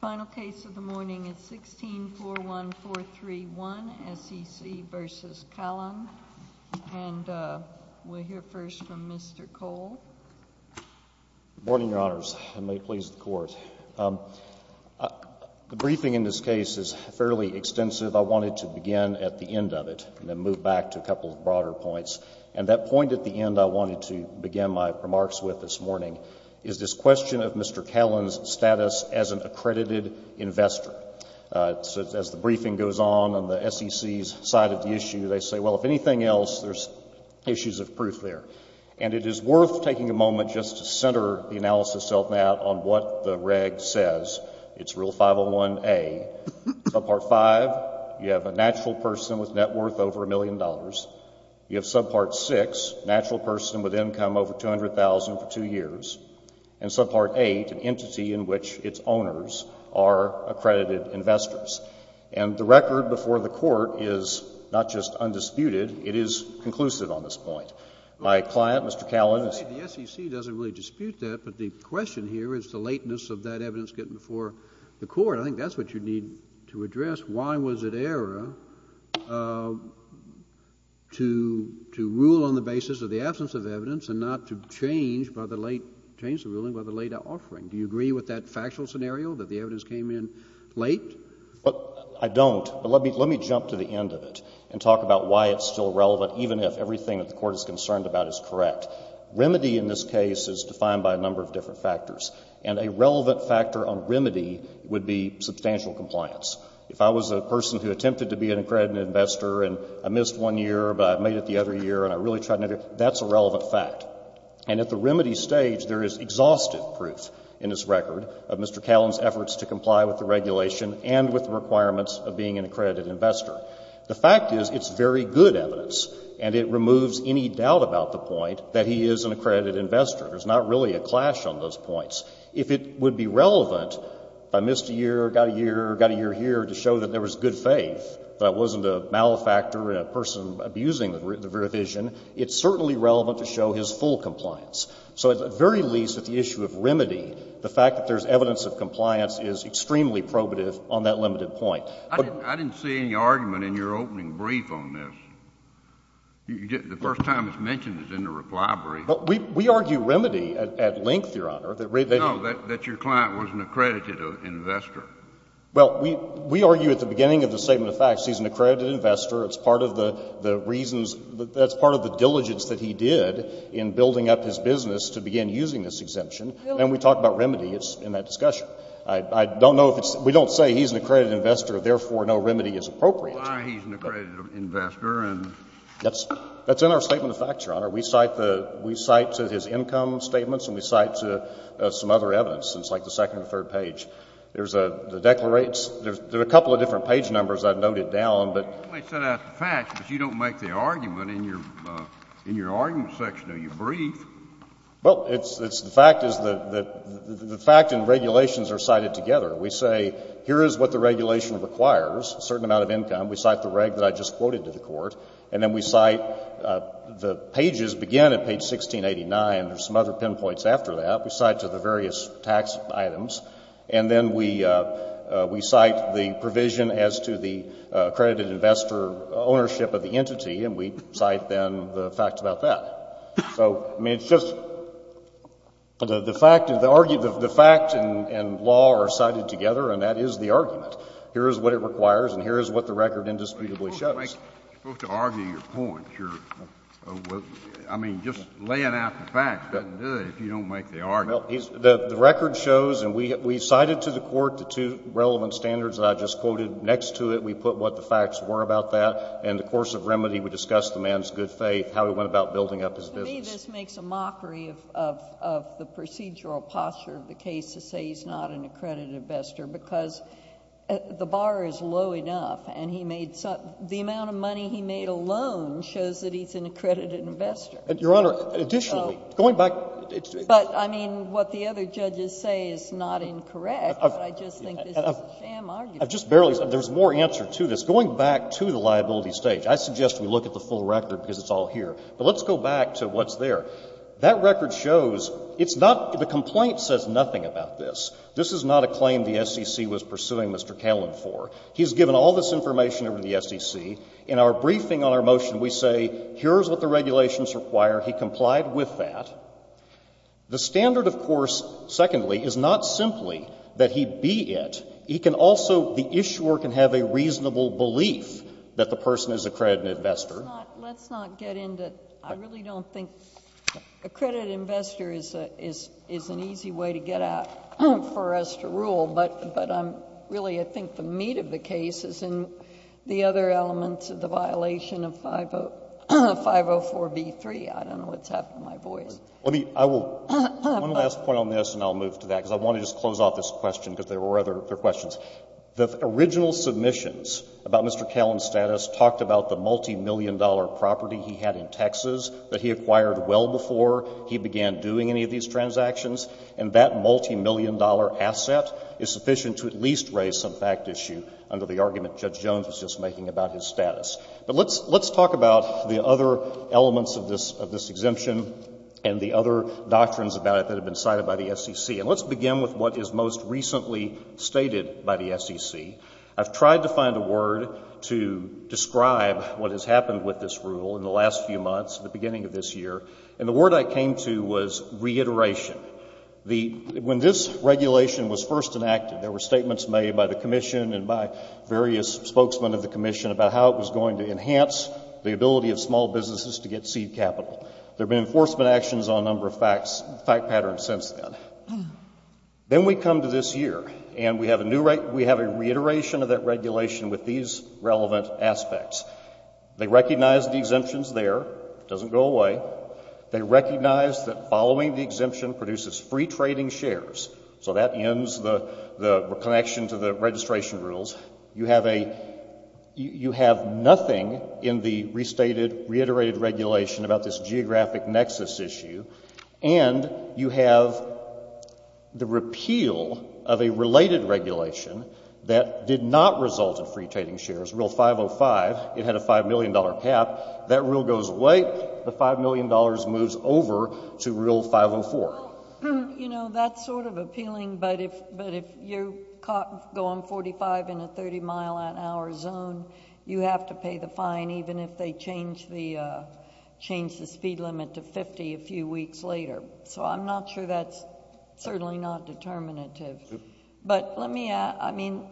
Final case of the morning is 1641431, S.E.C. v. Kahlon, and we'll hear first from Mr. Cole. Good morning, Your Honors, and may it please the Court. The briefing in this case is fairly extensive. I wanted to begin at the end of it and then move back to a couple of broader points. And that point at the end I wanted to begin my remarks with this morning is this question of Mr. Kahlon's status as an accredited investor. As the briefing goes on on the S.E.C.'s side of the issue, they say, well, if anything else, there's issues of proof there. And it is worth taking a moment just to center the analysis of that on what the reg says. It's Rule 501A, Subpart V, you have a natural person with net worth over a million dollars. You have Subpart VI, natural person with income over $200,000 for two years. And Subpart VIII, an entity in which its owners are accredited investors. And the record before the Court is not just undisputed, it is conclusive on this point. My client, Mr. Kahlon, is — The S.E.C. doesn't really dispute that, but the question here is the lateness of that evidence getting before the Court. I think that's what you need to address. Why was it error to rule on the basis of the absence of evidence and not to change by the late — change the ruling by the late offering? Do you agree with that factual scenario, that the evidence came in late? I don't. But let me jump to the end of it and talk about why it's still relevant, even if everything that the Court is concerned about is correct. Remedy in this case is defined by a number of different factors. And a relevant factor on remedy would be substantial compliance. If I was a person who attempted to be an accredited investor and I missed one year, but I made it the other year and I really tried to make it, that's a relevant fact. And at the remedy stage, there is exhaustive proof in this record of Mr. Kahlon's efforts to comply with the regulation and with the requirements of being an accredited investor. The fact is, it's very good evidence, and it removes any doubt about the point that he is an accredited investor. There's not really a clash on those points. If it would be relevant, if I missed a year, got a year, got a year here, to show that there was good faith, that I wasn't a malefactor and a person abusing the revision, it's certainly relevant to show his full compliance. So at the very least, at the issue of remedy, the fact that there's evidence of compliance is extremely probative on that limited point. I didn't see any argument in your opening brief on this. The first time it's mentioned is in the reply brief. We argue remedy at length, Your Honor. No, that your client was an accredited investor. Well, we argue at the beginning of the Statement of Facts he's an accredited investor. It's part of the reasons, that's part of the diligence that he did in building up his business to begin using this exemption. And we talk about remedy in that discussion. I don't know if it's — we don't say he's an accredited investor, therefore, no remedy is appropriate. Why he's an accredited investor and — That's in our Statement of Facts, Your Honor. We cite the — we cite his income statements and we cite some other evidence. It's like the second or third page. There's the declarates. There are a couple of different page numbers I've noted down, but — You might set out the facts, but you don't make the argument in your argument section of your brief. Well, it's — the fact is that — the fact and regulations are cited together. We say, here is what the regulation requires, a certain amount of income. We cite the reg that I just quoted to the Court. And then we cite — the pages begin at page 1689. There's some other pinpoints after that. We cite to the various tax items. And then we cite the provision as to the accredited investor ownership of the entity. And we just — the fact — the fact and law are cited together, and that is the argument. Here is what it requires, and here is what the record indisputably shows. You're supposed to argue your point. You're — I mean, just laying out the facts doesn't do it if you don't make the argument. The record shows — and we cited to the Court the two relevant standards that I just quoted. Next to it, we put what the facts were about that. In the course of remedy, we discussed the man's good faith, how he went about building up his business. But to me, this makes a mockery of the procedural posture of the case to say he's not an accredited investor, because the bar is low enough, and he made some — the amount of money he made alone shows that he's an accredited investor. Your Honor, additionally, going back to the — But, I mean, what the other judges say is not incorrect, but I just think this is a sham argument. I've just barely — there's more answer to this. Going back to the liability stage, I suggest we look at the full record, because it's all here. But let's go back to what's there. That record shows it's not — the complaint says nothing about this. This is not a claim the SEC was pursuing Mr. Callan for. He's given all this information over to the SEC. In our briefing on our motion, we say here's what the regulations require. He complied with that. The standard, of course, secondly, is not simply that he be it. He can also — the issuer can have a reasonable belief that the person is accredited investor. Let's not get into — I really don't think accredited investor is an easy way to get out for us to rule. But, really, I think the meat of the case is in the other elements of the violation of 504b3. I don't know what's happened to my voice. Let me — I will — one last point on this, and I'll move to that, because I want to just close off this question, because there were other questions. The original submissions about Mr. Callan's status talked about the multimillion-dollar property he had in Texas that he acquired well before he began doing any of these transactions. And that multimillion-dollar asset is sufficient to at least raise some fact issue under the argument Judge Jones was just making about his status. But let's — let's talk about the other elements of this — of this exemption and the other doctrines about it that have been cited by the SEC. And let's begin with what is most recently stated by the SEC. I've tried to find a word to describe what has happened with this rule in the last few months, at the beginning of this year. And the word I came to was reiteration. The — when this regulation was first enacted, there were statements made by the Commission and by various spokesmen of the Commission about how it was going to enhance the ability of small businesses to get seed capital. There have been enforcement actions on a number of facts — fact patterns since then. Then we come to this year, and we have a new — we have a reiteration of that regulation with these relevant aspects. They recognize the exemptions there. It doesn't go away. They recognize that following the exemption produces free trading shares. So that ends the — the connection to the registration rules. You have a — you have nothing in the restated, reiterated regulation about this The repeal of a related regulation that did not result in free trading shares, Rule 505, it had a $5 million cap. That rule goes away. The $5 million moves over to Rule 504. Well, you know, that's sort of appealing, but if — but if you're caught — go on 45 in a 30-mile-an-hour zone, you have to pay the fine even if they change the — So I'm not sure that's certainly not determinative. But let me — I mean,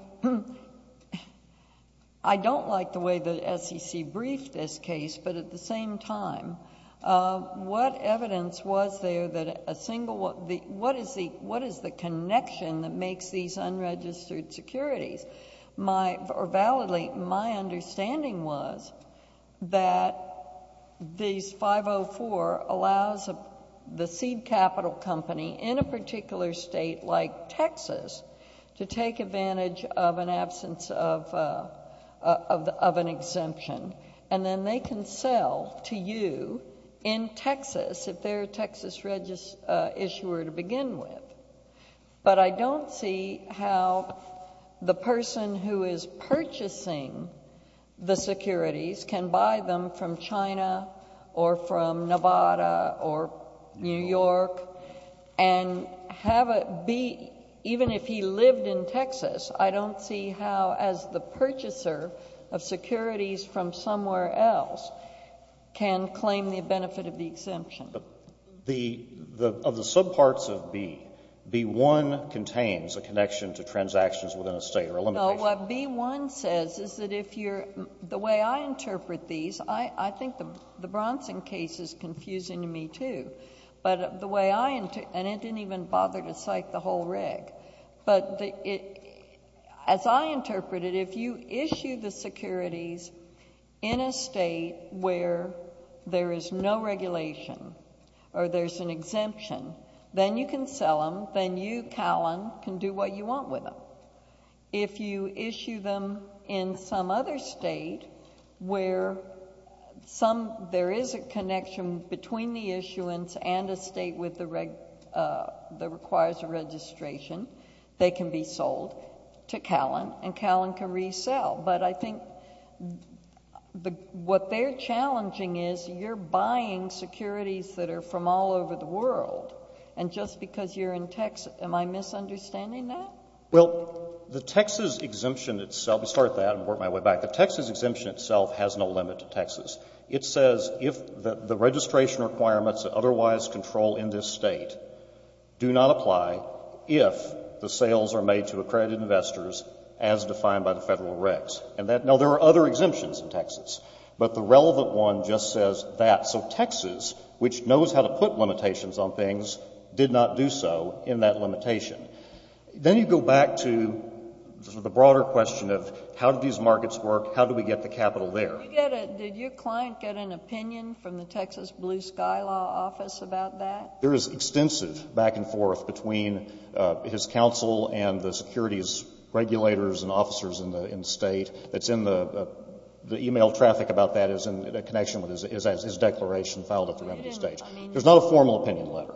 I don't like the way the SEC briefed this case, but at the same time, what evidence was there that a single — what is the — what is the connection that makes these unregistered securities? My — or validly, my capital company in a particular state like Texas to take advantage of an absence of an exemption. And then they can sell to you in Texas if they're a Texas issuer to begin with. But I don't see how the person who is purchasing the securities can buy them from China or from Nevada or New York and have it be — even if he lived in Texas, I don't see how, as the purchaser of securities from somewhere else, can claim the benefit of the exemption. But the — of the subparts of B, B-1 contains a connection to transactions within a state or a limitation. What B-1 says is that if you're — the way I interpret these, I think the Bronson case is confusing to me, too. But the way I — and it didn't even bother to cite the whole reg. But as I interpret it, if you issue the securities in a state where there is no regulation or there's an exemption, then you can sell them, then you, Callan, can do what you want with them. If you issue them in some other state where some — there is a connection between the issuance and a state with the — that requires a registration, they can be sold to Callan, and Callan can resell. But I think the — what they're challenging is you're buying securities that are from all over the world, and just because you're in Texas — am I misunderstanding that? Well, the Texas exemption itself — let me start with that and work my way back. The Texas exemption itself has no limit to Texas. It says if the — the registration requirements that otherwise control in this State do not apply if the sales are made to accredited investors as defined by the Federal regs. And that — no, there are other exemptions in Texas. But the relevant one just says that. So Texas, which knows how to put limitations on things, did not do so in that limitation. Then you go back to the broader question of how do these markets work, how do we get the capital there? You get a — did your client get an opinion from the Texas Blue Sky Law Office about that? There is extensive back and forth between his counsel and the securities regulators and officers in the — in the State that's in the — the email traffic about that is in connection with his — is as his declaration filed at the remedy stage. I mean — There's not a formal opinion letter.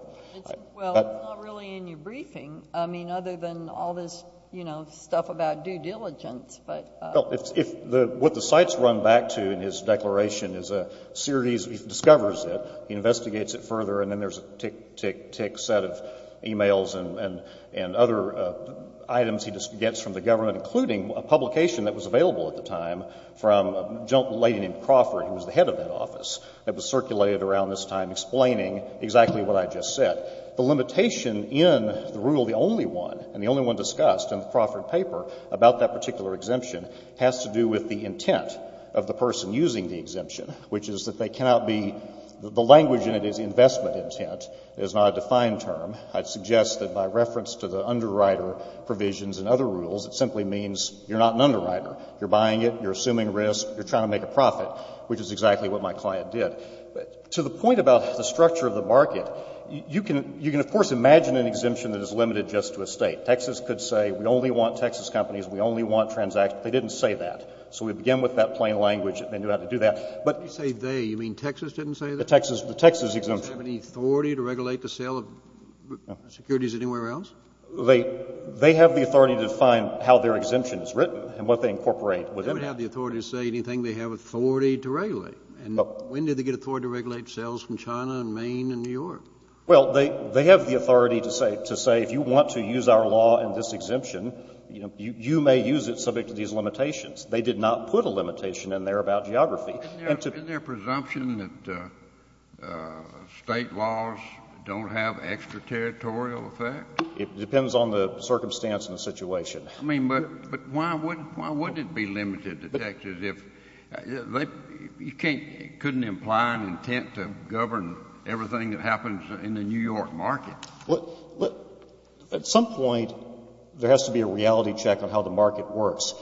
Well, it's not really in your briefing. I mean, other than all this, you know, stuff about due diligence, but — Well, if — what the site's run back to in his declaration is a series — he discovers it, he investigates it further, and then there's a tick, tick, tick set of emails and other items he gets from the government, including a publication that was available at the time from a lady named Crawford, who was the head of that office, that was circulated around this time explaining exactly what I just said. The limitation in the rule, the only one, and the only one discussed in the Crawford paper about that particular exemption has to do with the intent of the person using the exemption, which is that they cannot be — the language in it is investment intent. It is not a defined term. I'd suggest that by reference to the underwriter provisions and other rules, it simply means you're not an underwriter. You're buying it. You're assuming risk. You're trying to make a profit, which is exactly what my client did. But to the point about the structure of the market, you can — you can, of course, imagine an exemption that is limited just to a State. Texas could say we only want Texas companies. We only want transactions. They didn't say that. So we begin with that plain language. They knew how to do that. But — You say they. You mean Texas didn't say that? The Texas — the Texas exemption. Does it have any authority to regulate the sale of securities anywhere else? They — they have the authority to define how their exemption is written and what they incorporate. They don't have the authority to say anything they have authority to regulate. And when did they get authority to regulate sales from China and Maine and New York? Well, they — they have the authority to say — to say if you want to use our law in this exemption, you may use it subject to these limitations. They did not put a limitation in there about geography. Isn't there a presumption that State laws don't have extraterritorial effects? It depends on the circumstance and the situation. I mean, but — but why would — why would it be limited to Texas if — they — you can't — it couldn't imply an intent to govern everything that happens in the New York market. Well, at some point, there has to be a reality check on how the market works.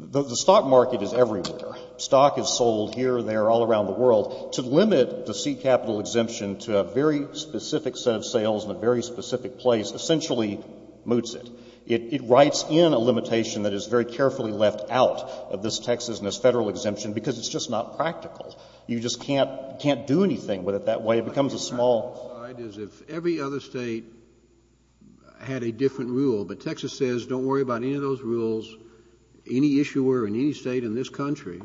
The stock market is everywhere. Stock is sold here, there, all around the world. To limit the seed capital exemption to a very specific set of sales in a very specific place essentially moots it. It — it writes in a limitation that is very carefully left out of this Texas and this Federal exemption because it's just not practical. You just can't — can't do anything with it that way. It becomes a small — All I did is if every other State had a different rule, but Texas says don't worry about any of those rules, any issuer in any State in this country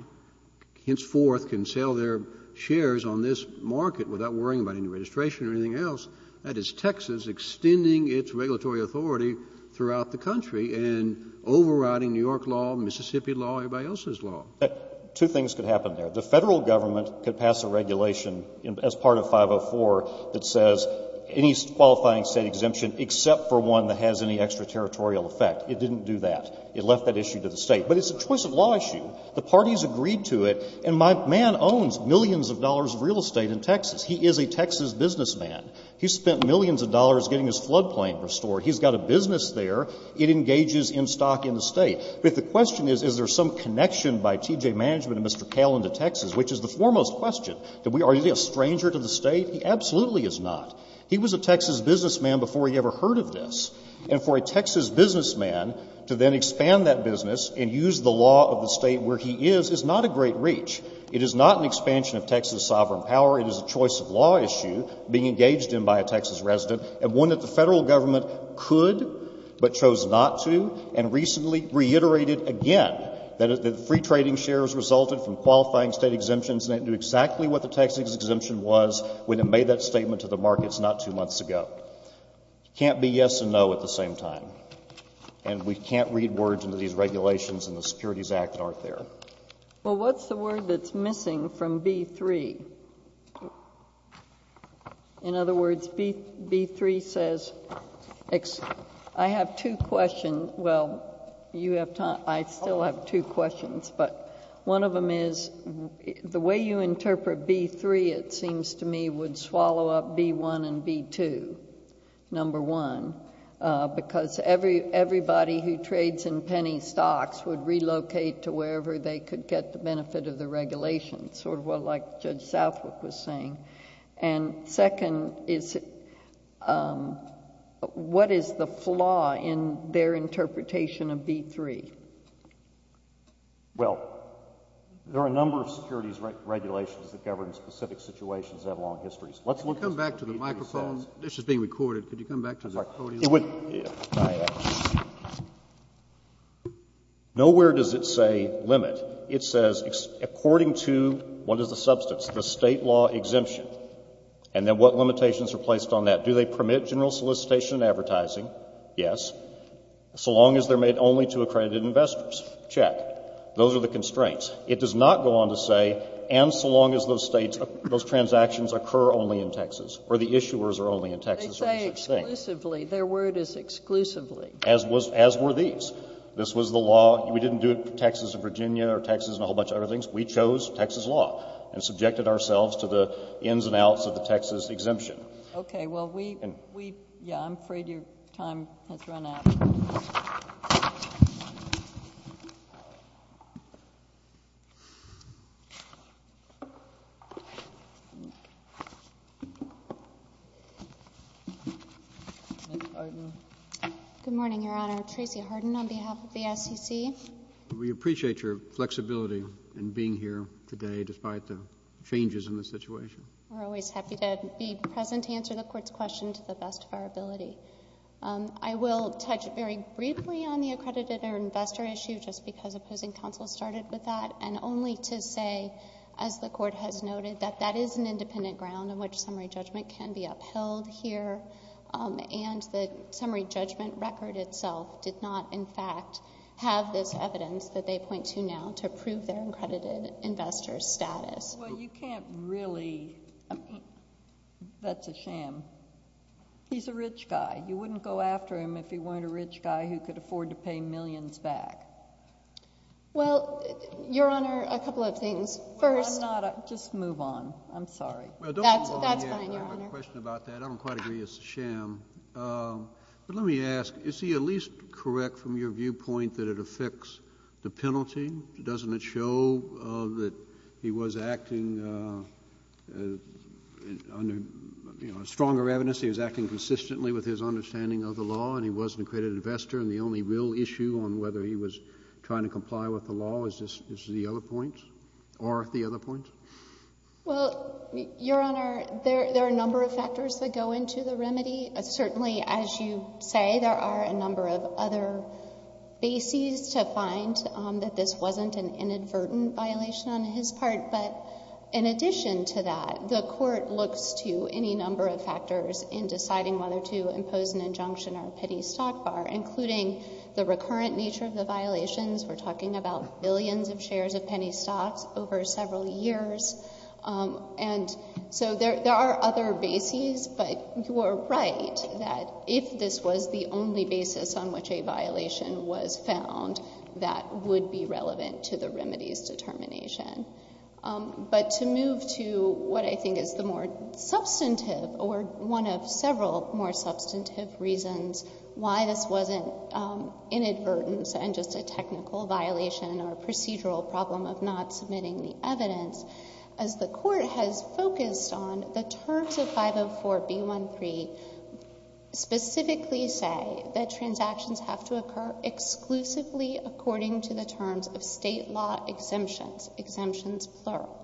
henceforth can sell their shares on this market without worrying about any registration or anything else. That is Texas extending its regulatory authority throughout the country and overriding New York law, Mississippi law, everybody else's law. But two things could happen there. The Federal government could pass a regulation as part of 504 that says any qualifying State exemption except for one that has any extraterritorial effect. It didn't do that. It left that issue to the State. But it's a choice of law issue. The parties agreed to it. And my man owns millions of dollars of real estate in Texas. He is a Texas businessman. He's spent millions of dollars getting his floodplain restored. He's got a business there. It engages in stock in the State. But if the question is, is there some connection by T.J. Management and Mr. Callen to Texas, which is the foremost question, that we are — is he a stranger to the State? He absolutely is not. He was a Texas businessman before he ever heard of this. And for a Texas businessman to then expand that business and use the law of the State where he is, is not a great reach. It is not an expansion of Texas' sovereign power. It is a choice of law issue being engaged in by a Texas resident, and one that the Federal government could but chose not to, and recently reiterated again, that free trading shares resulted from qualifying State exemptions, and it knew exactly what the Texas exemption was when it made that statement to the markets not two months ago. Can't be yes and no at the same time. And we can't read words into these regulations in the Securities Act that aren't there. Well, what's the word that's missing from B-3? In other words, B-3 says — I have two questions. Well, you have time — I still have two questions, but one of them is, the way you interpret B-3, it seems to me, would swallow up B-1 and B-2, number one, because everybody who trades in penny stocks would relocate to wherever they could get the benefit of the regulations, sort of like Judge Southwick was saying. And second is, what is the flaw in their interpretation of B-3? Well, there are a number of securities regulations that govern specific situations that have long histories. Let's look at — Could you come back to the microphone? This is being recorded. Could you come back to the microphone? It would — I ask. Nowhere does it say limit. It says, according to what is the substance, the State law exemption, and then what limitations are placed on that. Do they permit general solicitation and advertising? Yes. So long as they're made only to accredited investors. Check. Those are the constraints. It does not go on to say, and so long as those States — those transactions occur only in Texas, or the issuers are only in Texas, or any such thing. Exclusively. Their word is exclusively. As were these. This was the law. We didn't do it for Texas and Virginia or Texas and a whole bunch of other things. We chose Texas law and subjected ourselves to the ins and outs of the Texas exemption. Okay. Well, we — yeah, I'm afraid your time has run out. Ms. Harden. Good morning, Your Honor. Tracy Harden on behalf of the SEC. We appreciate your flexibility in being here today, despite the changes in the situation. We're always happy to be present to answer the Court's question to the best of our ability. I will touch very briefly on the accredited or investor issue, just because opposing counsel started with that, and only to say, as the Court has noted, that that is an independent ground on which summary judgment can be upheld here. And the summary judgment record itself did not, in fact, have this evidence that they point to now to prove their accredited investor's status. Well, you can't really — that's a sham. He's a rich guy. You wouldn't go after him if he weren't a rich guy who could afford to pay millions back. Well, Your Honor, a couple of things. First — Let's not — just move on. I'm sorry. That's fine, Your Honor. Well, don't move on yet. I have a question about that. I don't quite agree. It's a sham. But let me ask, is he at least correct from your viewpoint that it affects the penalty? Doesn't it show that he was acting under, you know, stronger evidence? He was acting consistently with his understanding of the law, and he was an accredited investor, and the only real issue on whether he was trying to comply with the law is the other point? Or the other point? Well, Your Honor, there are a number of factors that go into the remedy. Certainly, as you say, there are a number of other bases to find that this wasn't an inadvertent violation on his part. But in addition to that, the Court looks to any number of factors in deciding whether to impose an injunction or a petty stockpile, including the recurrent nature of the violations. We're talking about billions of shares of penny stocks over several years. And so there are other bases, but you are right that if this was the only basis on which a violation was found, that would be relevant to the remedy's determination. But to move to what I think is the more substantive or one of several more substantive reasons why this wasn't inadvertence and just a technical violation or procedural problem of not submitting the evidence, as the Court has focused on, the terms of 504B13 specifically say that transactions have to occur exclusively according to the terms of State law exemptions, exemptions plural.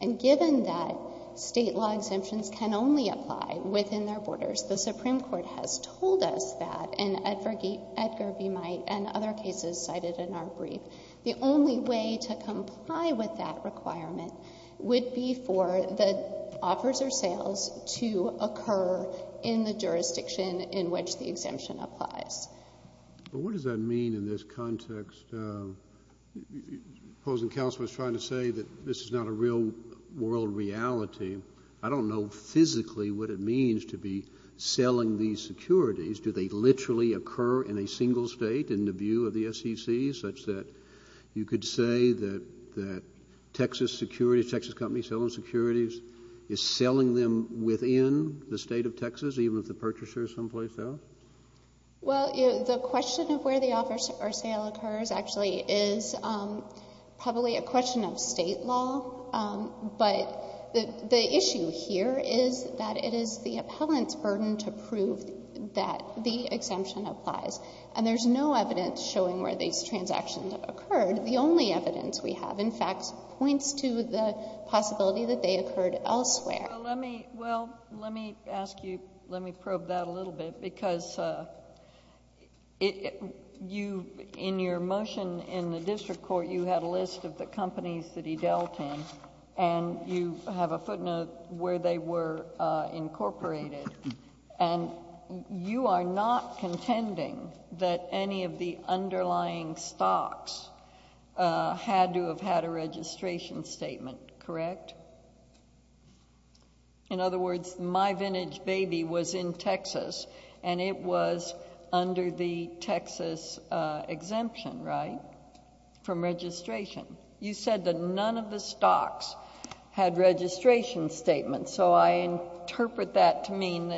And given that State law exemptions can only apply within their borders, the Supreme Court has told us that, and Edgar B. Might and other cases cited in our brief, the only way to comply with that requirement would be for the offers or sales to occur in the jurisdiction in which the exemption applies. But what does that mean in this context? The opposing counsel was trying to say that this is not a real world reality. I don't know physically what it means to be selling these securities. Do they literally occur in a single State in the view of the SEC, such that you could say that Texas Securities, a Texas company selling securities, is selling them within the State of Texas, even if the purchaser is someplace else? Well, the question of where the offer or sale occurs actually is probably a question of State law. But the issue here is that it is the appellant's burden to prove that the exemption applies. And there's no evidence showing where these transactions occurred. The only evidence we have, in fact, points to the possibility that they occurred elsewhere. Well, let me ask you... let me probe that a little bit, because in your motion in the district court, you had a list of the companies that he dealt in, and you have a footnote where they were incorporated. And you are not contending that any of the underlying stocks had to have had a registration statement, correct? In other words, My Vintage Baby was in Texas, and it was under the Texas exemption, right, from registration. You said that none of the stocks had registration statements. So I interpret that to mean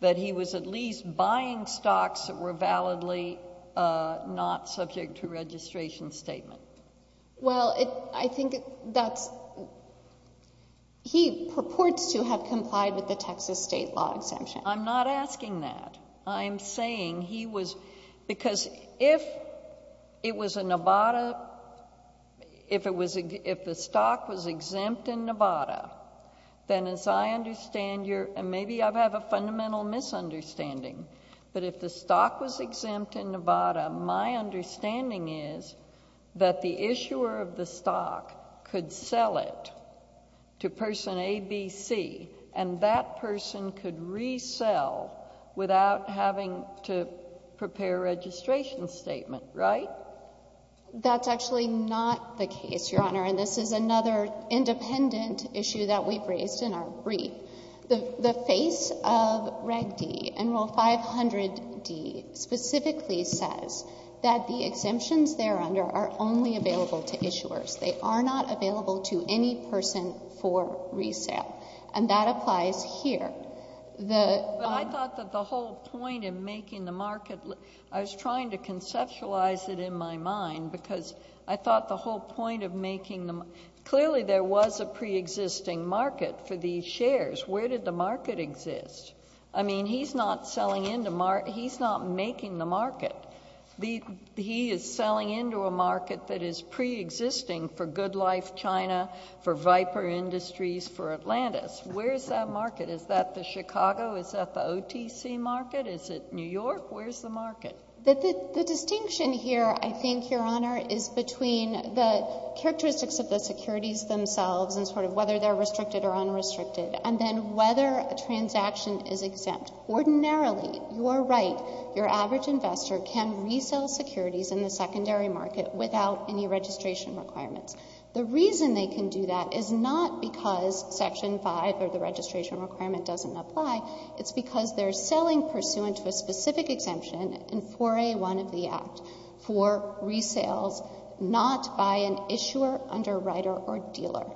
that he was at least buying stocks that were validly not subject to registration statement. Well, I think that's... he purports to have complied with the Texas State law exemption. I'm not asking that. I'm saying he was... because if it was a Nevada... if the stock was exempt in Nevada, then as I understand your... and maybe I have a fundamental misunderstanding, but if the stock was exempt in Nevada, my understanding is that the issuer of the stock could sell it to person A, B, C, and that person could resell without having to prepare a registration statement, right? That's actually not the case, Your Honor, and this is another independent issue that we've raised in our brief. The face of Reg D in Rule 500D specifically says that the exemptions there under are only available to issuers. They are not available to any person for resale, and that applies here. But I thought that the whole point in making the market... I was trying to conceptualize it in my mind because I thought the whole point of making the... clearly there was a preexisting market for these shares. Where did the market exist? I mean, he's not selling into... he's not making the market. He is selling into a market that is preexisting for Good Life China, for Viper Industries, for Atlantis. Where is that market? Is that the Chicago? Is that the OTC market? Is it New York? Where's the market? The distinction here, I think, Your Honor, is between the characteristics of the securities themselves and sort of whether they're restricted or unrestricted, and then whether a transaction is exempt. Ordinarily, you are right, your average investor can resell securities in the secondary market without any registration requirements. The reason they can do that is not because Section 5 or the registration requirement doesn't apply. It's because they're in 4A1 of the Act for resales not by an issuer, underwriter, or dealer.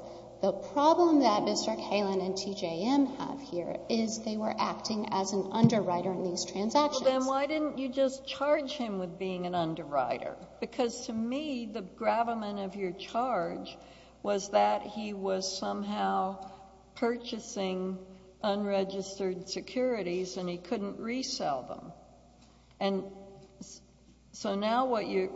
The problem that Mr. Kalin and TJM have here is they were acting as an underwriter in these transactions. Well, then why didn't you just charge him with being an underwriter? Because to me, the gravamen of your charge was that he was somehow purchasing unregistered securities and he couldn't resell them. And so now what you,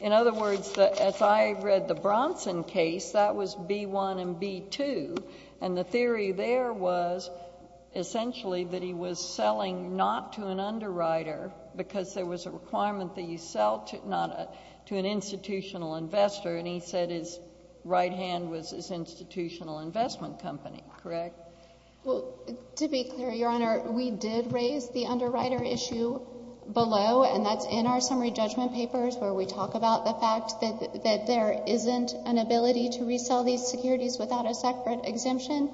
in other words, as I read the Bronson case, that was B1 and B2, and the theory there was essentially that he was selling not to an underwriter because there was a requirement that you sell to an institutional investor, and he said his right hand was his institutional investment company, correct? Well, to be clear, Your Honor, we did raise the underwriter issue below, and that's in our summary judgment papers where we talk about the fact that there isn't an ability to resell these securities without a separate exemption.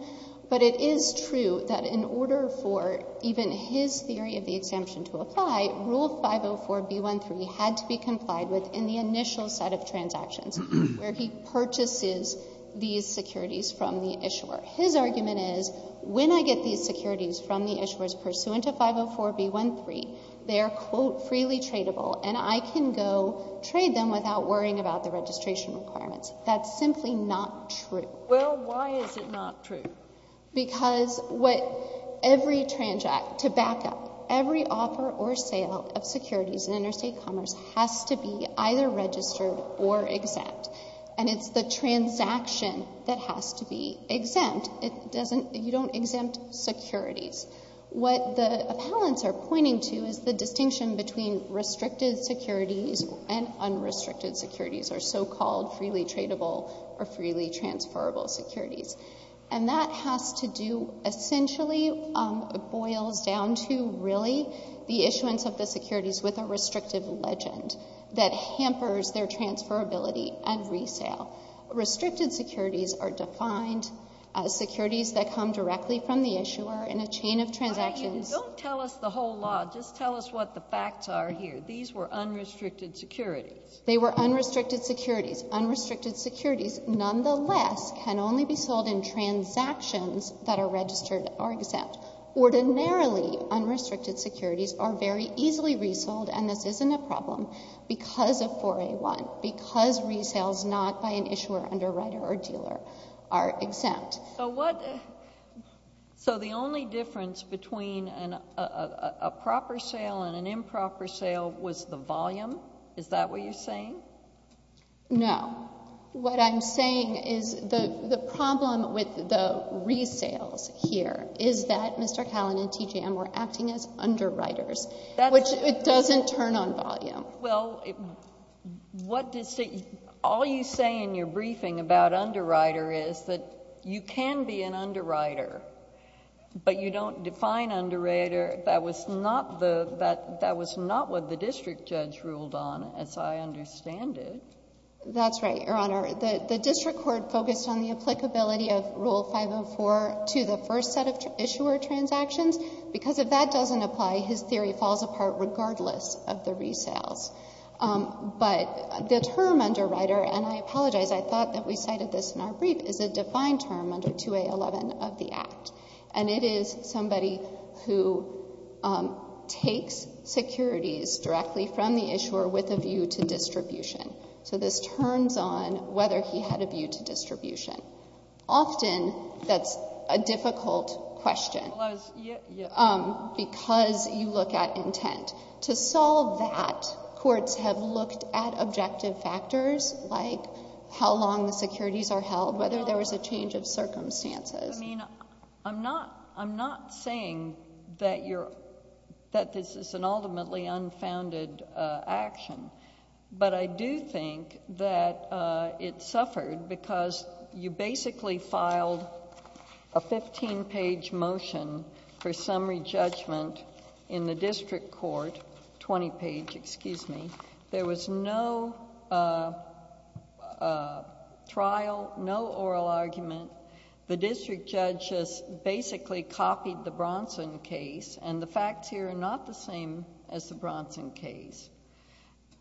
But it is true that in order for even his theory of the exemption to apply, Rule 504B13 had to be complied with in the initial set of transactions where he purchases these securities from the issuer. His argument is, when I get these securities from the issuers pursuant to 504B13, they are, quote, freely tradable and I can go trade them without worrying about the registration requirements. That's simply not true. Well, why is it not true? Because what every transact, to back up, every offer or sale of securities in interstate commerce has to be either registered or exempt. And it's the transaction that has to be registered. You don't exempt securities. What the appellants are pointing to is the distinction between restricted securities and unrestricted securities, or so-called freely tradable or freely transferable securities. And that has to do, essentially boils down to, really, the issuance of the securities with a restrictive legend that hampers their issuer in a chain of transactions. Don't tell us the whole law. Just tell us what the facts are here. These were unrestricted securities. They were unrestricted securities. Unrestricted securities, nonetheless, can only be sold in transactions that are registered or exempt. Ordinarily, unrestricted securities are very easily resold, and this isn't a problem, because of 4A1, because resales not by an issuer, underwriter, or dealer are exempt. So the only difference between a proper sale and an improper sale was the volume? Is that what you're saying? No. What I'm saying is the problem with the resales here is that Mr. Callan and TJM were acting as underwriters, which it doesn't turn on volume. Well, all you say in your briefing about underwriter is that you can be an underwriter, but you don't define underwriter. That was not what the district judge ruled on, as I understand it. That's right, Your Honor. The district court focused on the applicability of Rule 504 to the first set of issuer transactions, because if that doesn't apply, his theory falls apart regardless of the resales. But the term underwriter, and I apologize, I thought that we cited this in our brief, is a defined term under 2A11 of the Act, and it is somebody who takes securities directly from the issuer with a view to distribution. So this turns on whether he had a view to distribution. Often that's a difficult question because you look at intent. To solve that, courts have looked at objective factors like how long the securities are held, whether there was a change of circumstances. I mean, I'm not saying that this is an ultimately unfounded action, but I do think that it suffered because you basically filed a fifteen-page motion for summary judgment in the district court, twenty-page, excuse me. There was no trial, no oral argument. The district judge just basically copied the Bronson case, and the facts here are not the same as the Bronson case.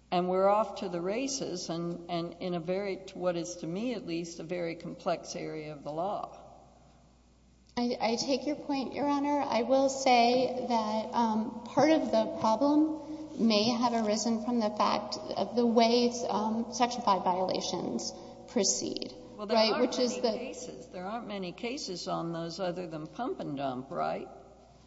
And we're off to the races, and in a very, what is to me at least, a very complex area of the law. I take your point, Your Honor. I will say that part of the problem may have arisen from the fact of the way Section 5 violations proceed. Well, there aren't many cases. There aren't many cases on those other than pump and dump, right?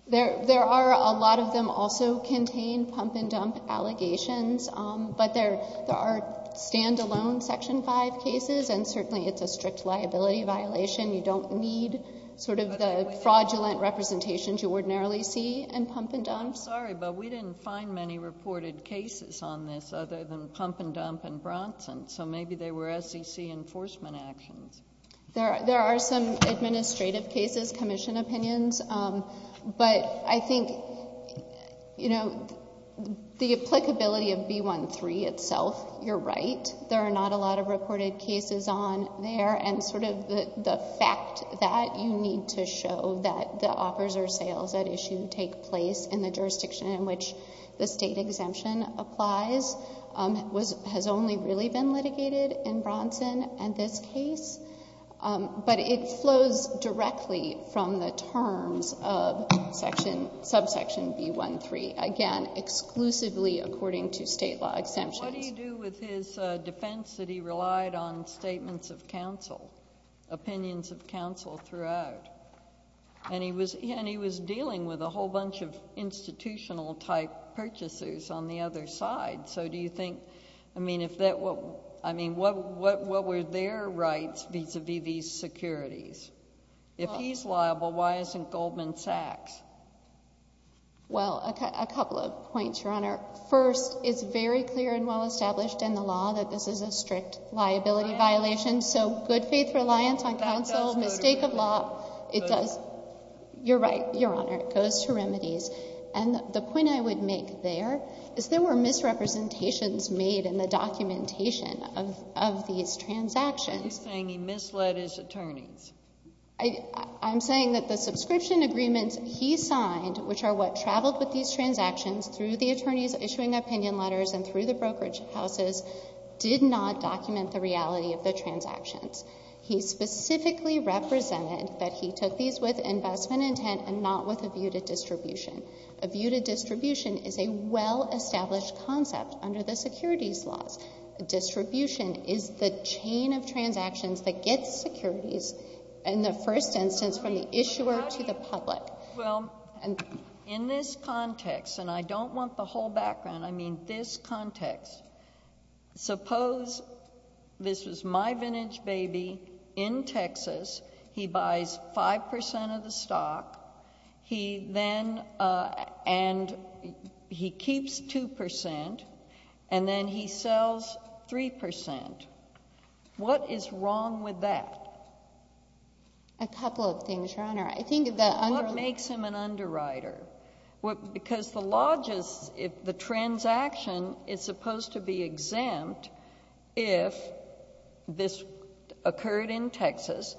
There are. A lot of them also contain pump and dump allegations, but there are stand-alone Section 5 cases, and certainly it's a strict liability violation. You don't need sort of the fraudulent representations you ordinarily see in pump and dump. I'm sorry, but we didn't find many reported cases on this other than pump and dump and Bronson, so maybe they were SEC enforcement actions. There are some administrative cases, commission opinions, but I think, you know, the applicability of B-1-3 itself, you're right. There are not a lot of reported cases on there, and sort of the fact that you need to show that the offers or sales at issue take place in the jurisdiction in which the state exemption applies has only really been litigated in this case, but it flows directly from the terms of subsection B-1-3, again, exclusively according to state law exemptions. And what do you do with his defense that he relied on statements of counsel, opinions of counsel throughout? And he was dealing with a whole bunch of institutional-type purchasers on the other side, so do you think, I mean, what were their rights vis-à-vis these securities? If he's liable, why isn't Goldman Sachs? Well, a couple of points, Your Honor. First, it's very clear and well established in the law that this is a strict liability violation, so good faith reliance on counsel, mistake of law, it does, you're right, Your Honor, it goes to remedies. And the point I would make there is there were misrepresentations made in the documentation of these transactions. Are you saying he misled his attorneys? I'm saying that the subscription agreements he signed, which are what traveled with these transactions through the attorneys issuing opinion letters and through the brokerage houses, did not document the reality of the transactions. He specifically represented that he took these with investment intent and not with a view to distribution. A view to distribution is a well-established concept under the securities laws. Distribution is the chain of transactions that gets securities in the first instance from the issuer to the public. Well, in this context, and I don't want the whole background, I mean this context, suppose this was my vintage baby in Texas, he buys 5 percent of the stock, he then, and he keeps 2 percent, and then he sells 3 percent. What is wrong with that? A couple of things, Your Honor. What makes him an underwriter? Because the law just, the transaction is supposed to be exempt if this occurred in Texas,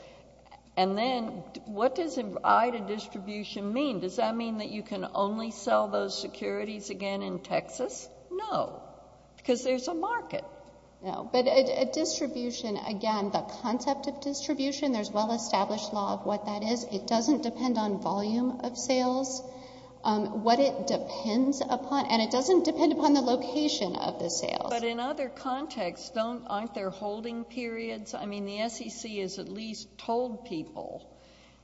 and then what does an eye to distribution mean? Does that mean that you can only sell those securities again in Texas? No, because there's a market. No, but distribution, again, the concept of distribution, there's well-established law of what that is. It doesn't depend on volume of sales. What it depends upon, and it doesn't depend upon the location of the sales. But in other contexts, aren't there holding periods? I mean, the SEC has at least told people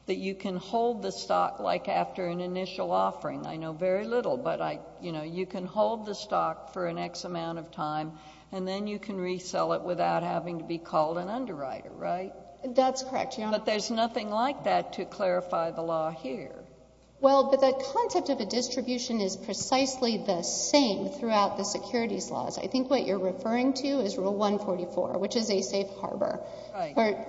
that you can hold the stock like after an initial offering. I know very little, but I, you know, you can hold the stock for an X amount of time, and then you can resell it without having to be called an underwriter, right? That's correct, Your Honor. But there's nothing like that to clarify the law here. Well, but the concept of a distribution is precisely the same throughout the securities laws. I think what you're referring to is Rule 144, which is a safe harbor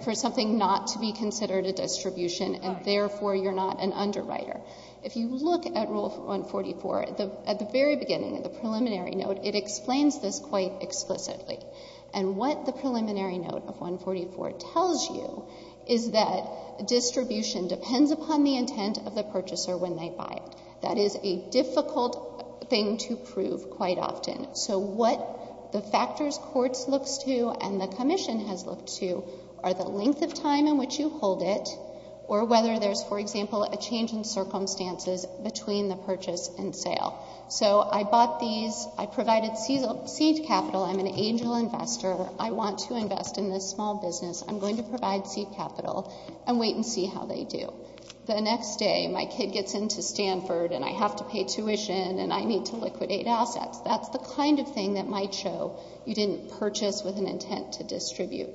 for something not to be considered a distribution, and therefore you're not an underwriter. If you look at Rule 144, at the very beginning, at the preliminary note, it explains this quite explicitly. And what the preliminary note of 144 tells you is that distribution depends upon the intent of the purchaser when they buy. That is a difficult thing to prove quite often. So what the factors courts looks to and the Commission has looked to are the length of time in which you hold it, or whether there's, for example, a change in circumstances between the purchase and sale. So I bought these. I provided seed capital. I'm an angel investor. I want to invest in this small business. I'm going to provide seed capital and wait and see how they do. The next day, my kid gets into Stanford, and I have to pay tuition, and I need to liquidate assets. That's the kind of thing that might show you didn't purchase with an intent to distribute.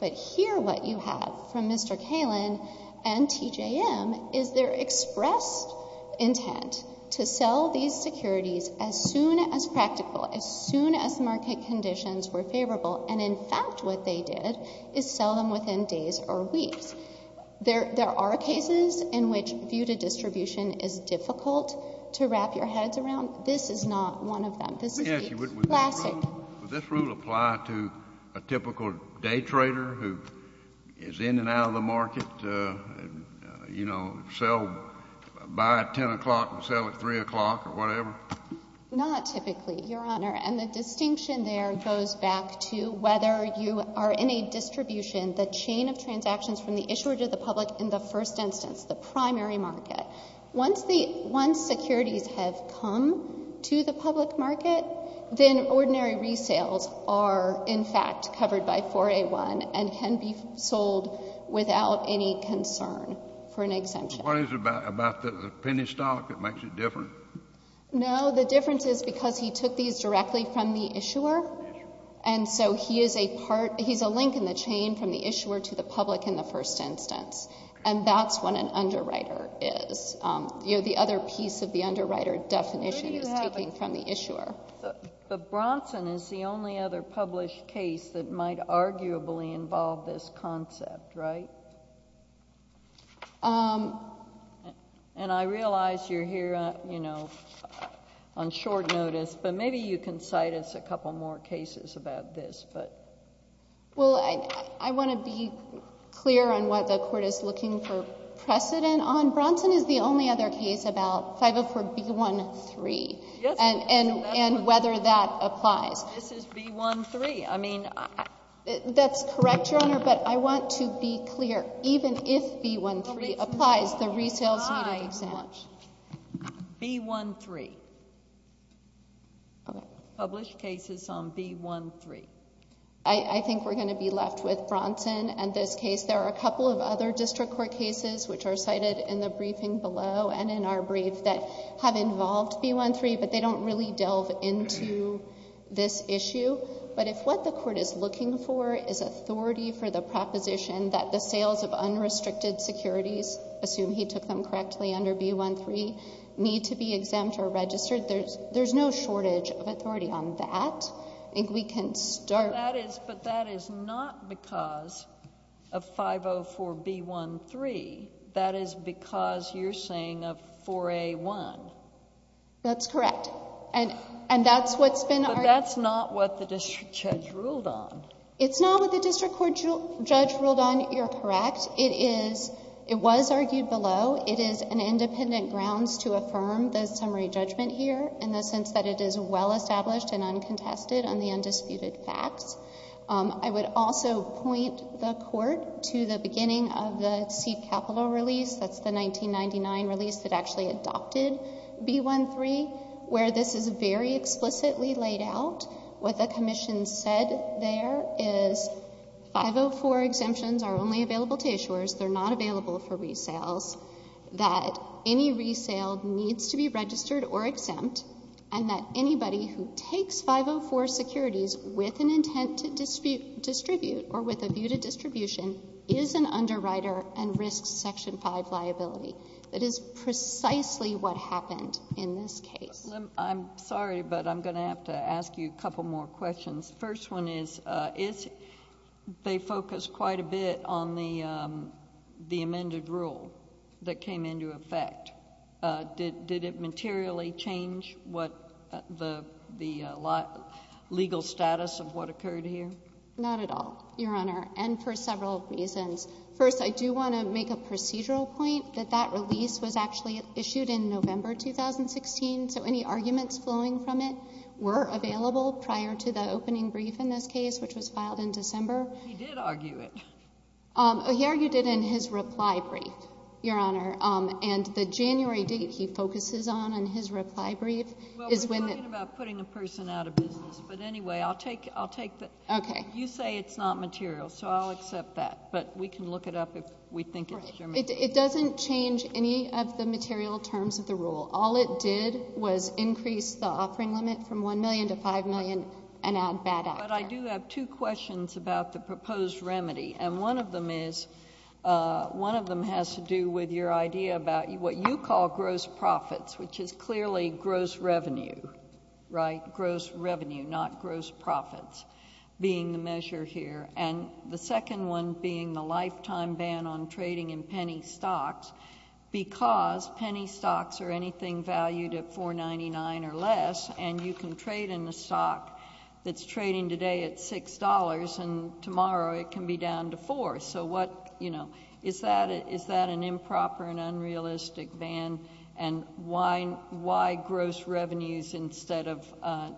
But here what you have from Mr. Kalin and TJM is their expressed intent to sell these securities as soon as practical, as soon as market conditions were favorable. And, in fact, what they did is sell them within days or weeks. There are cases in which view-to-distribution is difficult to wrap your heads around. This is not one of them. This is a classic. Does this rule apply to a typical day trader who is in and out of the market, you know, sell, buy at 10 o'clock and sell at 3 o'clock or whatever? Not typically, Your Honor. And the distinction there goes back to whether you are in a distribution, the chain of transactions from the issuer to the public in the first instance, the primary market. Once securities have come to the public market, then ordinary resales are, in fact, covered by 4A1 and can be sold without any concern for an exemption. What is it about the penny stock that makes it different? No, the difference is because he took these directly from the issuer, and so he is a part, he's a link in the chain from the issuer to the public in the first instance. And that's what an underwriter is. You know, the other piece of the underwriter definition is taking from the issuer. But Bronson is the only other published case that might arguably involve this concept, right? And I realize you're here, you know, on short notice, but maybe you can cite us a couple more cases about this, but... Well, I want to be clear on what the Court is looking for precedent on. Bronson is the only other case about 504B13... Yes.... and whether that applies. This is B13. I mean... That's correct, Your Honor, but I want to be clear. Even if B13 applies, the resale is not exempt. B13. Published cases on B13. I think we're going to be left with Bronson and this case. There are a couple of other district court cases which are cited in the briefing below and in our brief that have involved B13, but they don't really delve into this issue. But if what the Court is looking for is authority for the proposition that the sales of unrestricted securities, assume he took them correctly under B13, need to be exempt or registered, there's no shortage of authority on that. I think we can start... That is because you're saying of 4A1. That's correct. And that's what's been... But that's not what the district judge ruled on. It's not what the district court judge ruled on. You're correct. It was argued below. It is an independent grounds to affirm the summary judgment here in the sense that it is well established and uncontested on the undisputed facts. I would also point the Court to the beginning of the seed capital release. That's the 1999 release that actually adopted B13 where this is very explicitly laid out. What the Commission said there is 504 exemptions are only available to issuers. They're not available for resales. That any resale needs to be registered or exempt and that anybody who takes 504 securities with an intent to distribute or with a view to distribution is an underwriter and risks Section 5 liability. That is precisely what happened in this case. I'm sorry, but I'm going to have to ask you a couple more questions. The first one is they focused quite a bit on the amended rule that came into effect. Did it materially change the legal status of what occurred here? Not at all, Your Honor, and for several reasons. First, I do want to make a procedural point that that release was actually issued in November 2016, so any arguments flowing from it were available prior to the opening brief in this case which was filed in December. He did argue it. He argued it in his reply brief, Your Honor, and the January date he focuses on in his reply brief is when... You say it's not material, so I'll accept that, but we can look it up if we think it's... It doesn't change any of the material terms of the rule. All it did was increase the offering limit from 1 million to 5 million and add bad actors. But I do have two questions about the proposed remedy, and one of them has to do with your idea about what you call gross profits, which is clearly gross revenue, right? Gross revenue, not gross profits being the measure here. The second one being the lifetime ban on trading in penny stocks because penny stocks are anything valued at $4.99 or less, and you can trade in a stock that's trading today at $6 and tomorrow it can be down to $4. Is that an improper and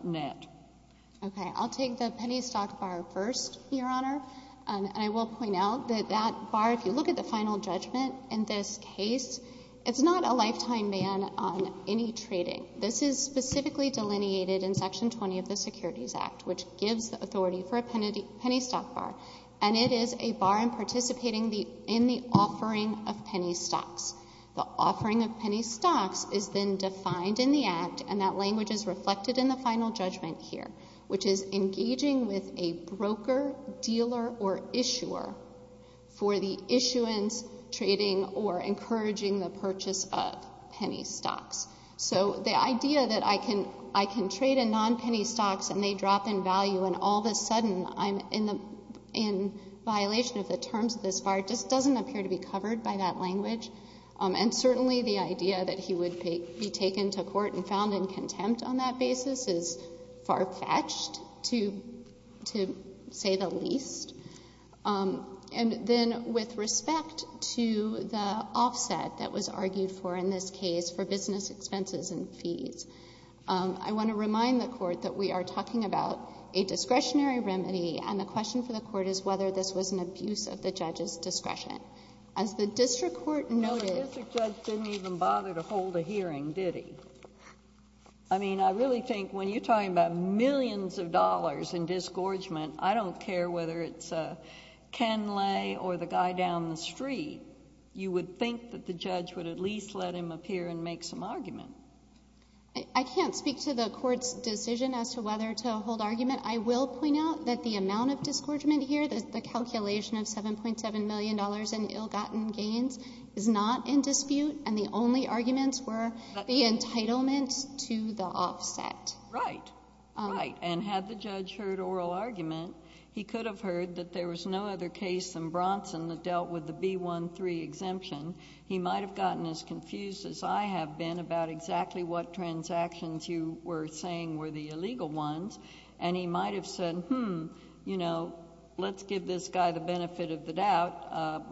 net? Okay. I'll take the penny stock bar first, Your Honor, and I will point out that that bar, if you look at the final judgment in this case, it's not a lifetime ban on any trading. This is specifically delineated in Section 20 of the Securities Act, which gives the authority for a penny stock bar, and it is a bar in participating in the offering of penny stocks. The offering of penny stocks is then defined in the Act, and that language is reflected in the final judgment here, which is engaging with a broker, dealer, or issuer for the issuance, trading, or encouraging the purchase of penny stocks. So the idea that I can trade in nonpenny stocks and they drop in value and all of a sudden I'm in violation of the terms of this bar just doesn't appear to be covered by that and found in contempt on that basis is far-fetched, to say the least. And then with respect to the offset that was argued for in this case for business expenses and fees, I want to remind the Court that we are talking about a discretionary remedy, and the question for the Court is whether this was an abuse of the judge's discretion. As the district court noted... I mean, I really think when you're talking about millions of dollars in disgorgement, I don't care whether it's Ken Lay or the guy down the street, you would think that the judge would at least let him appear and make some argument. I can't speak to the Court's decision as to whether to hold argument. I will point out that the amount of disgorgement here, the calculation of $7.7 million in ill-gotten gains is not in dispute, and the only arguments were... The entitlement to the offset. Right. Right. And had the judge heard oral argument, he could have heard that there was no other case in Bronson that dealt with the B-1-3 exemption. He might have gotten as confused as I have been about exactly what transactions you were saying were the illegal ones, and he might have said, hmm, let's give this guy the benefit of the doubt, a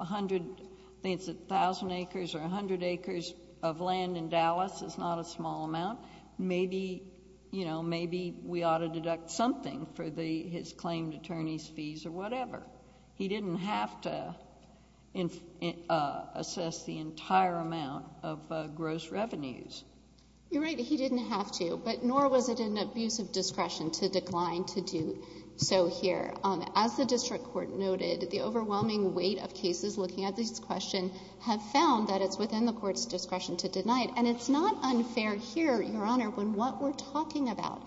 thousand acres or a hundred acres of land in Dallas is not a small amount. Maybe, you know, maybe we ought to deduct something for his claimed attorney's fees or whatever. He didn't have to assess the entire amount of gross revenues. You're right. He didn't have to, but nor was it in the abuse of discretion to decline to do so here. As the district court noted, the overwhelming weight of cases looking at this question have found that it's within the unfair here, Your Honor, when what we're talking about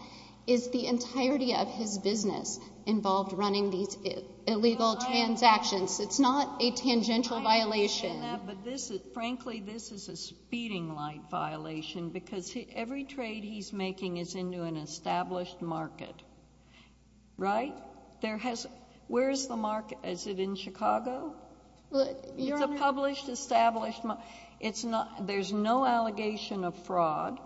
is the entirety of his business involved running these illegal transactions. It's not a tangential violation. I understand that, but this is... frankly, this is a speeding light violation because every trade he's making is into an established market. Right? There has... where is the market? Is it in Chicago? Your Honor... There's not an allegation of fraud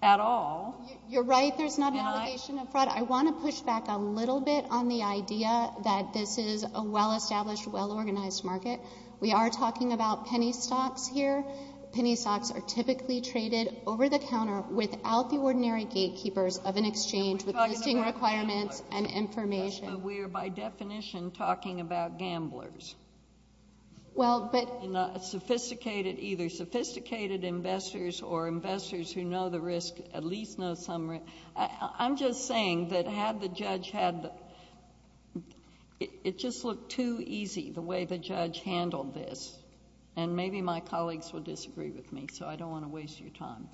at all. You're right. There's not an allegation of fraud. I want to push back a little bit on the idea that this is a well-established, well-organized market. We are talking about penny stocks here. Penny stocks are typically traded over the counter without the ordinary gatekeepers of an exchange with listing requirements and information. We are, by definition, talking about gamblers. Well, but... Either sophisticated investors or investors who know the risk at least know some... I'm just saying that had the judge had... it just looked too easy, the way the judge handled this. Maybe my colleagues will disagree with me, so I don't want to waste your time.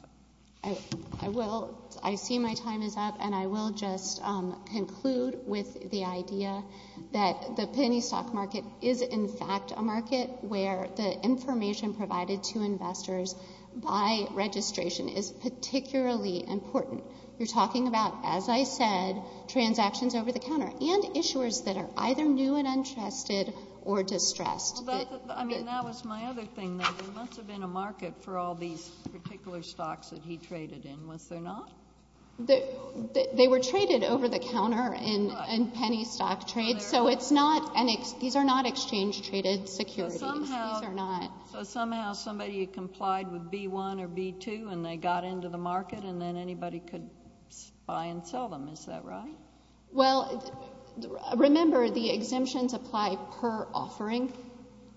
I see my time is up, and I will just conclude with the idea that the penny stock market is, in fact, a market where the information provided to investors by registration is particularly important. You're talking about, as I said, transactions over the counter and issuers that are either new and untrusted or distressed. I mean, that was my other thing. There must have been a market for all these particular stocks that he traded in. Was there not? They were traded over the counter in penny stock trade, so it's not an exchange. These are not exchange-traded securities. These are not. So somehow somebody complied with B1 or B2, and they got into the market, and then anybody could buy and sell them. Is that right? Well, remember, the exemptions apply per offering,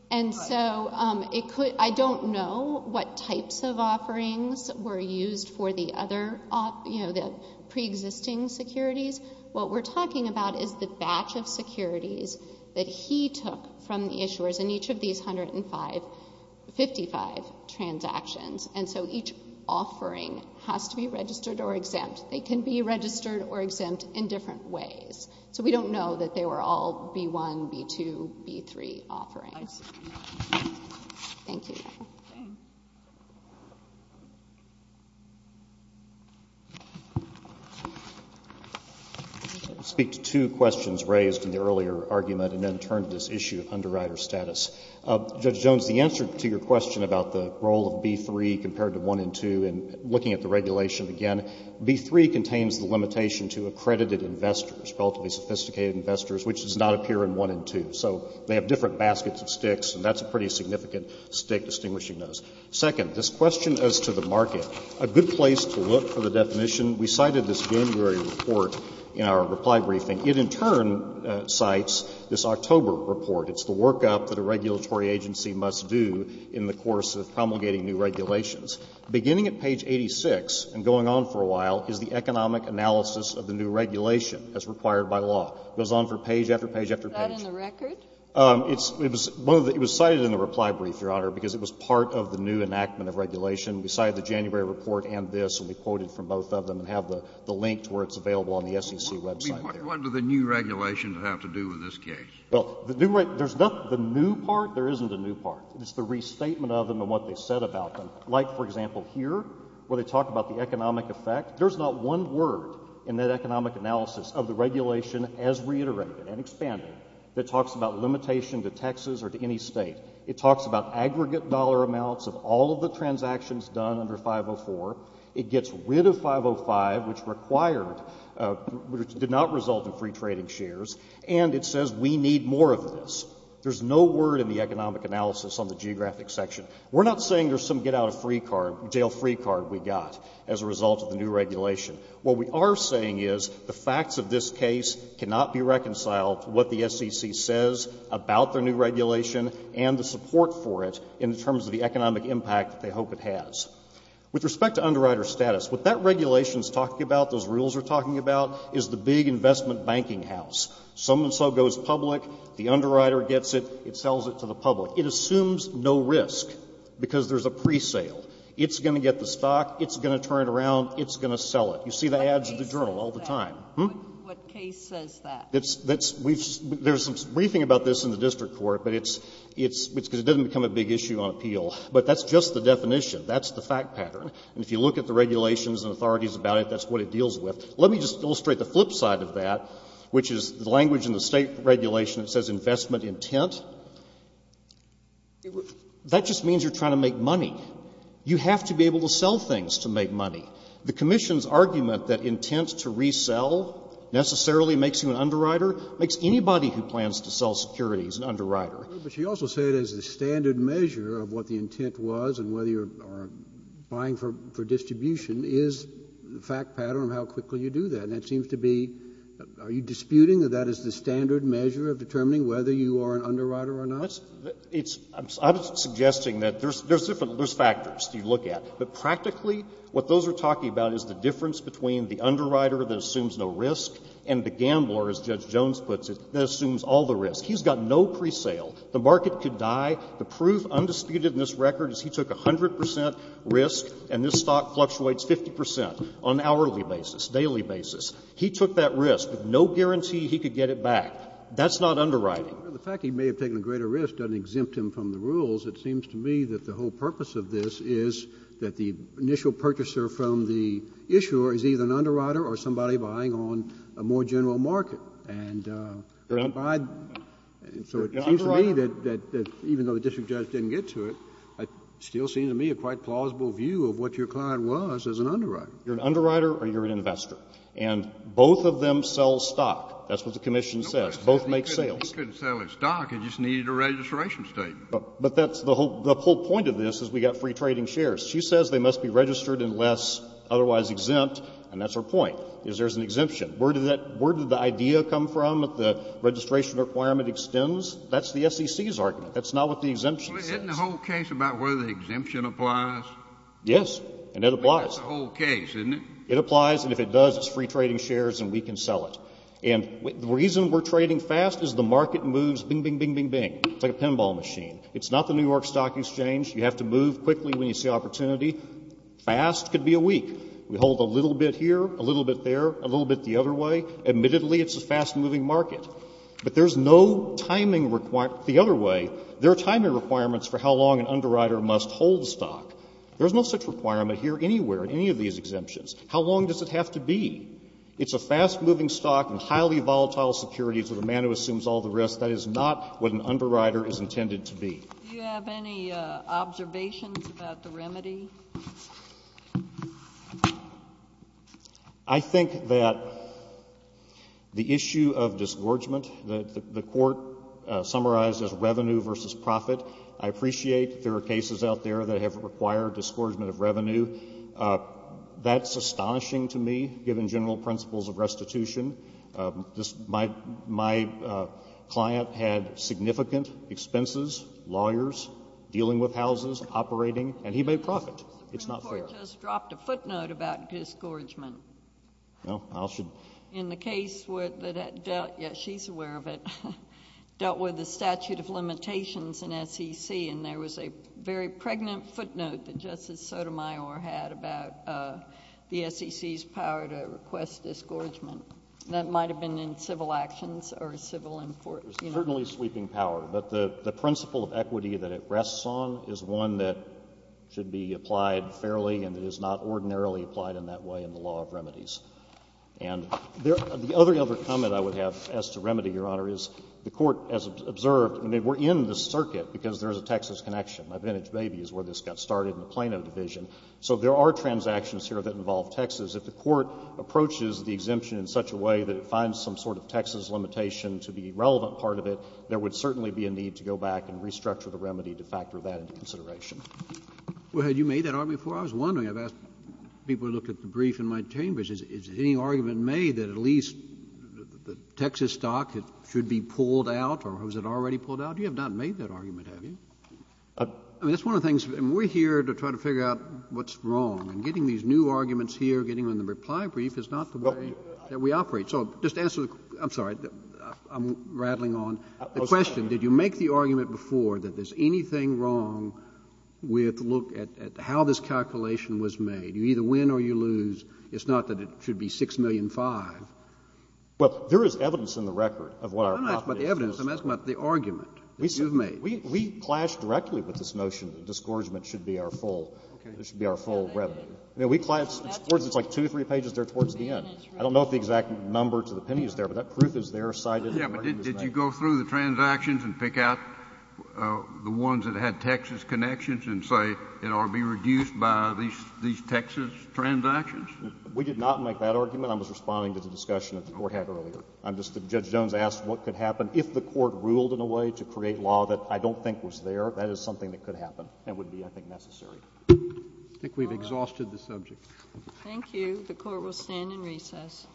and so I don't know what types of offerings were used for the preexisting securities. What we're talking about is the batch of securities that he took from the issuers in each of these 155 transactions. And so each offering has to be registered or exempt. They can be registered or exempt in different ways. So we don't know that they were all B1, B2, B3 offerings. Thank you. I'll speak to two questions raised in the earlier argument and then turn to this issue of underwriter status. Judge Jones, the answer to your question about the role of B3 compared to 1 and 2 and looking at the regulation again, B3 contains the limitation to accredited investors, relatively sophisticated investors, which does not appear in 1 and 2. So they have different baskets of sticks, and that's a pretty significant stick distinguishing those. Second, this question as to the market, a good place to look for the definition we cited this January report in our reply briefing. It in turn cites this October report. It's the workup that a regulatory agency must do in the course of promulgating new regulations. Beginning at page 86 and going on for a while is the economic analysis of the new regulation as required by law. It goes on for page after page after page. Is that in the record? It was cited in the reply brief, Your Honor, because it was part of the new enactment of regulation. We cited the January report and this, and we quoted from both of them and have the link to where it's available on the SEC website. I mean, what do the new regulations have to do with this case? Well, there's not the new part. There isn't a new part. It's the restatement of them and what they said about them. Like, for example, here, where they talk about the economic effect. There's not one word in that economic analysis of the regulation as reiterated and expanded that talks about limitation to Texas or to any state. It talks about aggregate dollar amounts of all of the transactions done under 504. It gets rid of 505, which required, which did not result in free trading shares. And it says we need more of this. There's no word in the economic analysis on the geographic section. We're not saying there's some get-out-of-jail-free card we got as a result of the new regulation. What we are saying is the facts of this case cannot be reconciled to what the SEC says about the new regulation and the support for it in terms of the economic impact that they hope it has. With respect to underwriter status, what that regulation is talking about, those rules are talking about, is the big investment banking house. Some and so goes public. The underwriter gets it. It sells it to the public. It assumes no risk because there's a presale. It's going to get the stock. It's going to turn it around. It's going to sell it. You see the ads in the journal all the time. What case says that? There's some briefing about this in the district court, but it's because it doesn't become a big issue on appeal. But that's just the definition. That's the fact pattern. And if you look at the regulations and authorities about it, that's what it deals with. Let me just illustrate the flip side of that, which is the language in the State regulation that says investment intent. That just means you're trying to make money. You have to be able to sell things to make money. The commission's argument that intent to resell necessarily makes you an underwriter makes anybody who plans to sell securities an underwriter. Kennedy. But you also say it is the standard measure of what the intent was and whether you're buying for distribution is the fact pattern of how quickly you do that. And it seems to be, are you disputing that that is the standard measure of determining whether you are an underwriter or not? Well, it's — I'm suggesting that there's different factors to look at. But practically, what those are talking about is the difference between the underwriter that assumes no risk and the gambler, as Judge Jones puts it, that assumes all the risk. He's got no presale. The market could die. The proof undisputed in this record is he took 100 percent risk, and this stock fluctuates 50 percent on an hourly basis, daily basis. He took that risk with no guarantee he could get it back. That's not underwriting. Well, the fact he may have taken a greater risk doesn't exempt him from the rules. It seems to me that the whole purpose of this is that the initial purchaser from the issuer is either an underwriter or somebody buying on a more general market. And so it seems to me that even though the district judge didn't get to it, it still seems to me a quite plausible view of what your client was as an underwriter. You're an underwriter or you're an investor. And both of them sell stock. That's what the commission says. Both make sales. He couldn't sell his stock. He just needed a registration statement. But that's the whole point of this is we've got free trading shares. She says they must be registered unless otherwise exempt, and that's her point, is there's an exemption. Where did the idea come from that the registration requirement extends? That's the SEC's argument. That's not what the exemption says. Isn't the whole case about whether the exemption applies? Yes, and it applies. That's the whole case, isn't it? It applies, and if it does, it's free trading shares and we can sell it. And the reason we're trading fast is the market moves bing, bing, bing, bing, bing. It's like a pinball machine. It's not the New York Stock Exchange. You have to move quickly when you see opportunity. Fast could be a week. We hold a little bit here, a little bit there, a little bit the other way. Admittedly, it's a fast-moving market. But there's no timing requirement the other way. There are timing requirements for how long an underwriter must hold stock. There's no such requirement here anywhere in any of these exemptions. How long does it have to be? It's a fast-moving stock and highly volatile securities with a man who assumes all the risk. That is not what an underwriter is intended to be. Do you have any observations about the remedy? I think that the issue of disgorgement that the Court summarized as revenue versus profit, I appreciate there are cases out there that have required disgorgement of revenue. That's astonishing to me, given general principles of restitution. My client had significant expenses, lawyers, dealing with houses, operating, and he made profit. It's not fair. The Supreme Court just dropped a footnote about disgorgement. Well, I'll should... In the case where that dealt, yes, she's aware of it, dealt with the statute of limitations in SEC. And there was a very pregnant footnote that Justice Sotomayor had about the SEC's power to request disgorgement. That might have been in civil actions or civil... It's certainly sweeping power. But the principle of equity that it rests on is one that should be applied fairly, and it is not ordinarily applied in that way in the law of remedies. And the other comment I would have as to remedy, Your Honor, is the Court, as observed, and we're in this circuit because there's a Texas connection. My vintage baby is where this got started in the Plano division. So there are transactions here that involve Texas. If the Court approaches the exemption in such a way that it finds some sort of Texas limitation to be a relevant part of it, there would certainly be a need to go back and restructure the remedy to factor that into consideration. Well, had you made that argument before? I was wondering. I've asked people to look at the brief in my chambers. Is any argument made that at least the Texas stock should be pulled out or has it already pulled out? You have not made that argument, have you? I mean, that's one of the things. We're here to try to figure out what's wrong. And getting these new arguments here, getting them in the reply brief is not the way that we operate. So just answer the question. I'm sorry. I'm rattling on. The question, did you make the argument before that there's anything wrong with looking at how this calculation was made? You either win or you lose. It's not that it should be 6,000,005. Well, there is evidence in the record of what our property is. I'm not asking about the evidence. I'm asking about the argument that you've made. We clashed directly with this notion that disgorgement should be our full. Okay. It should be our full revenue. I mean, we clashed. It's like two or three pages there towards the end. I don't know if the exact number to the penny is there, but that proof is there, cited. Yeah, but did you go through the transactions and pick out the ones that had Texas We did not make that argument. I was responding to the discussion that the Court had earlier. Judge Jones asked what could happen if the Court ruled in a way to create law that I don't think was there. That is something that could happen and would be, I think, necessary. I think we've exhausted the subject. Thank you. The Court will stand in recess. All rise. The Court is adjourned.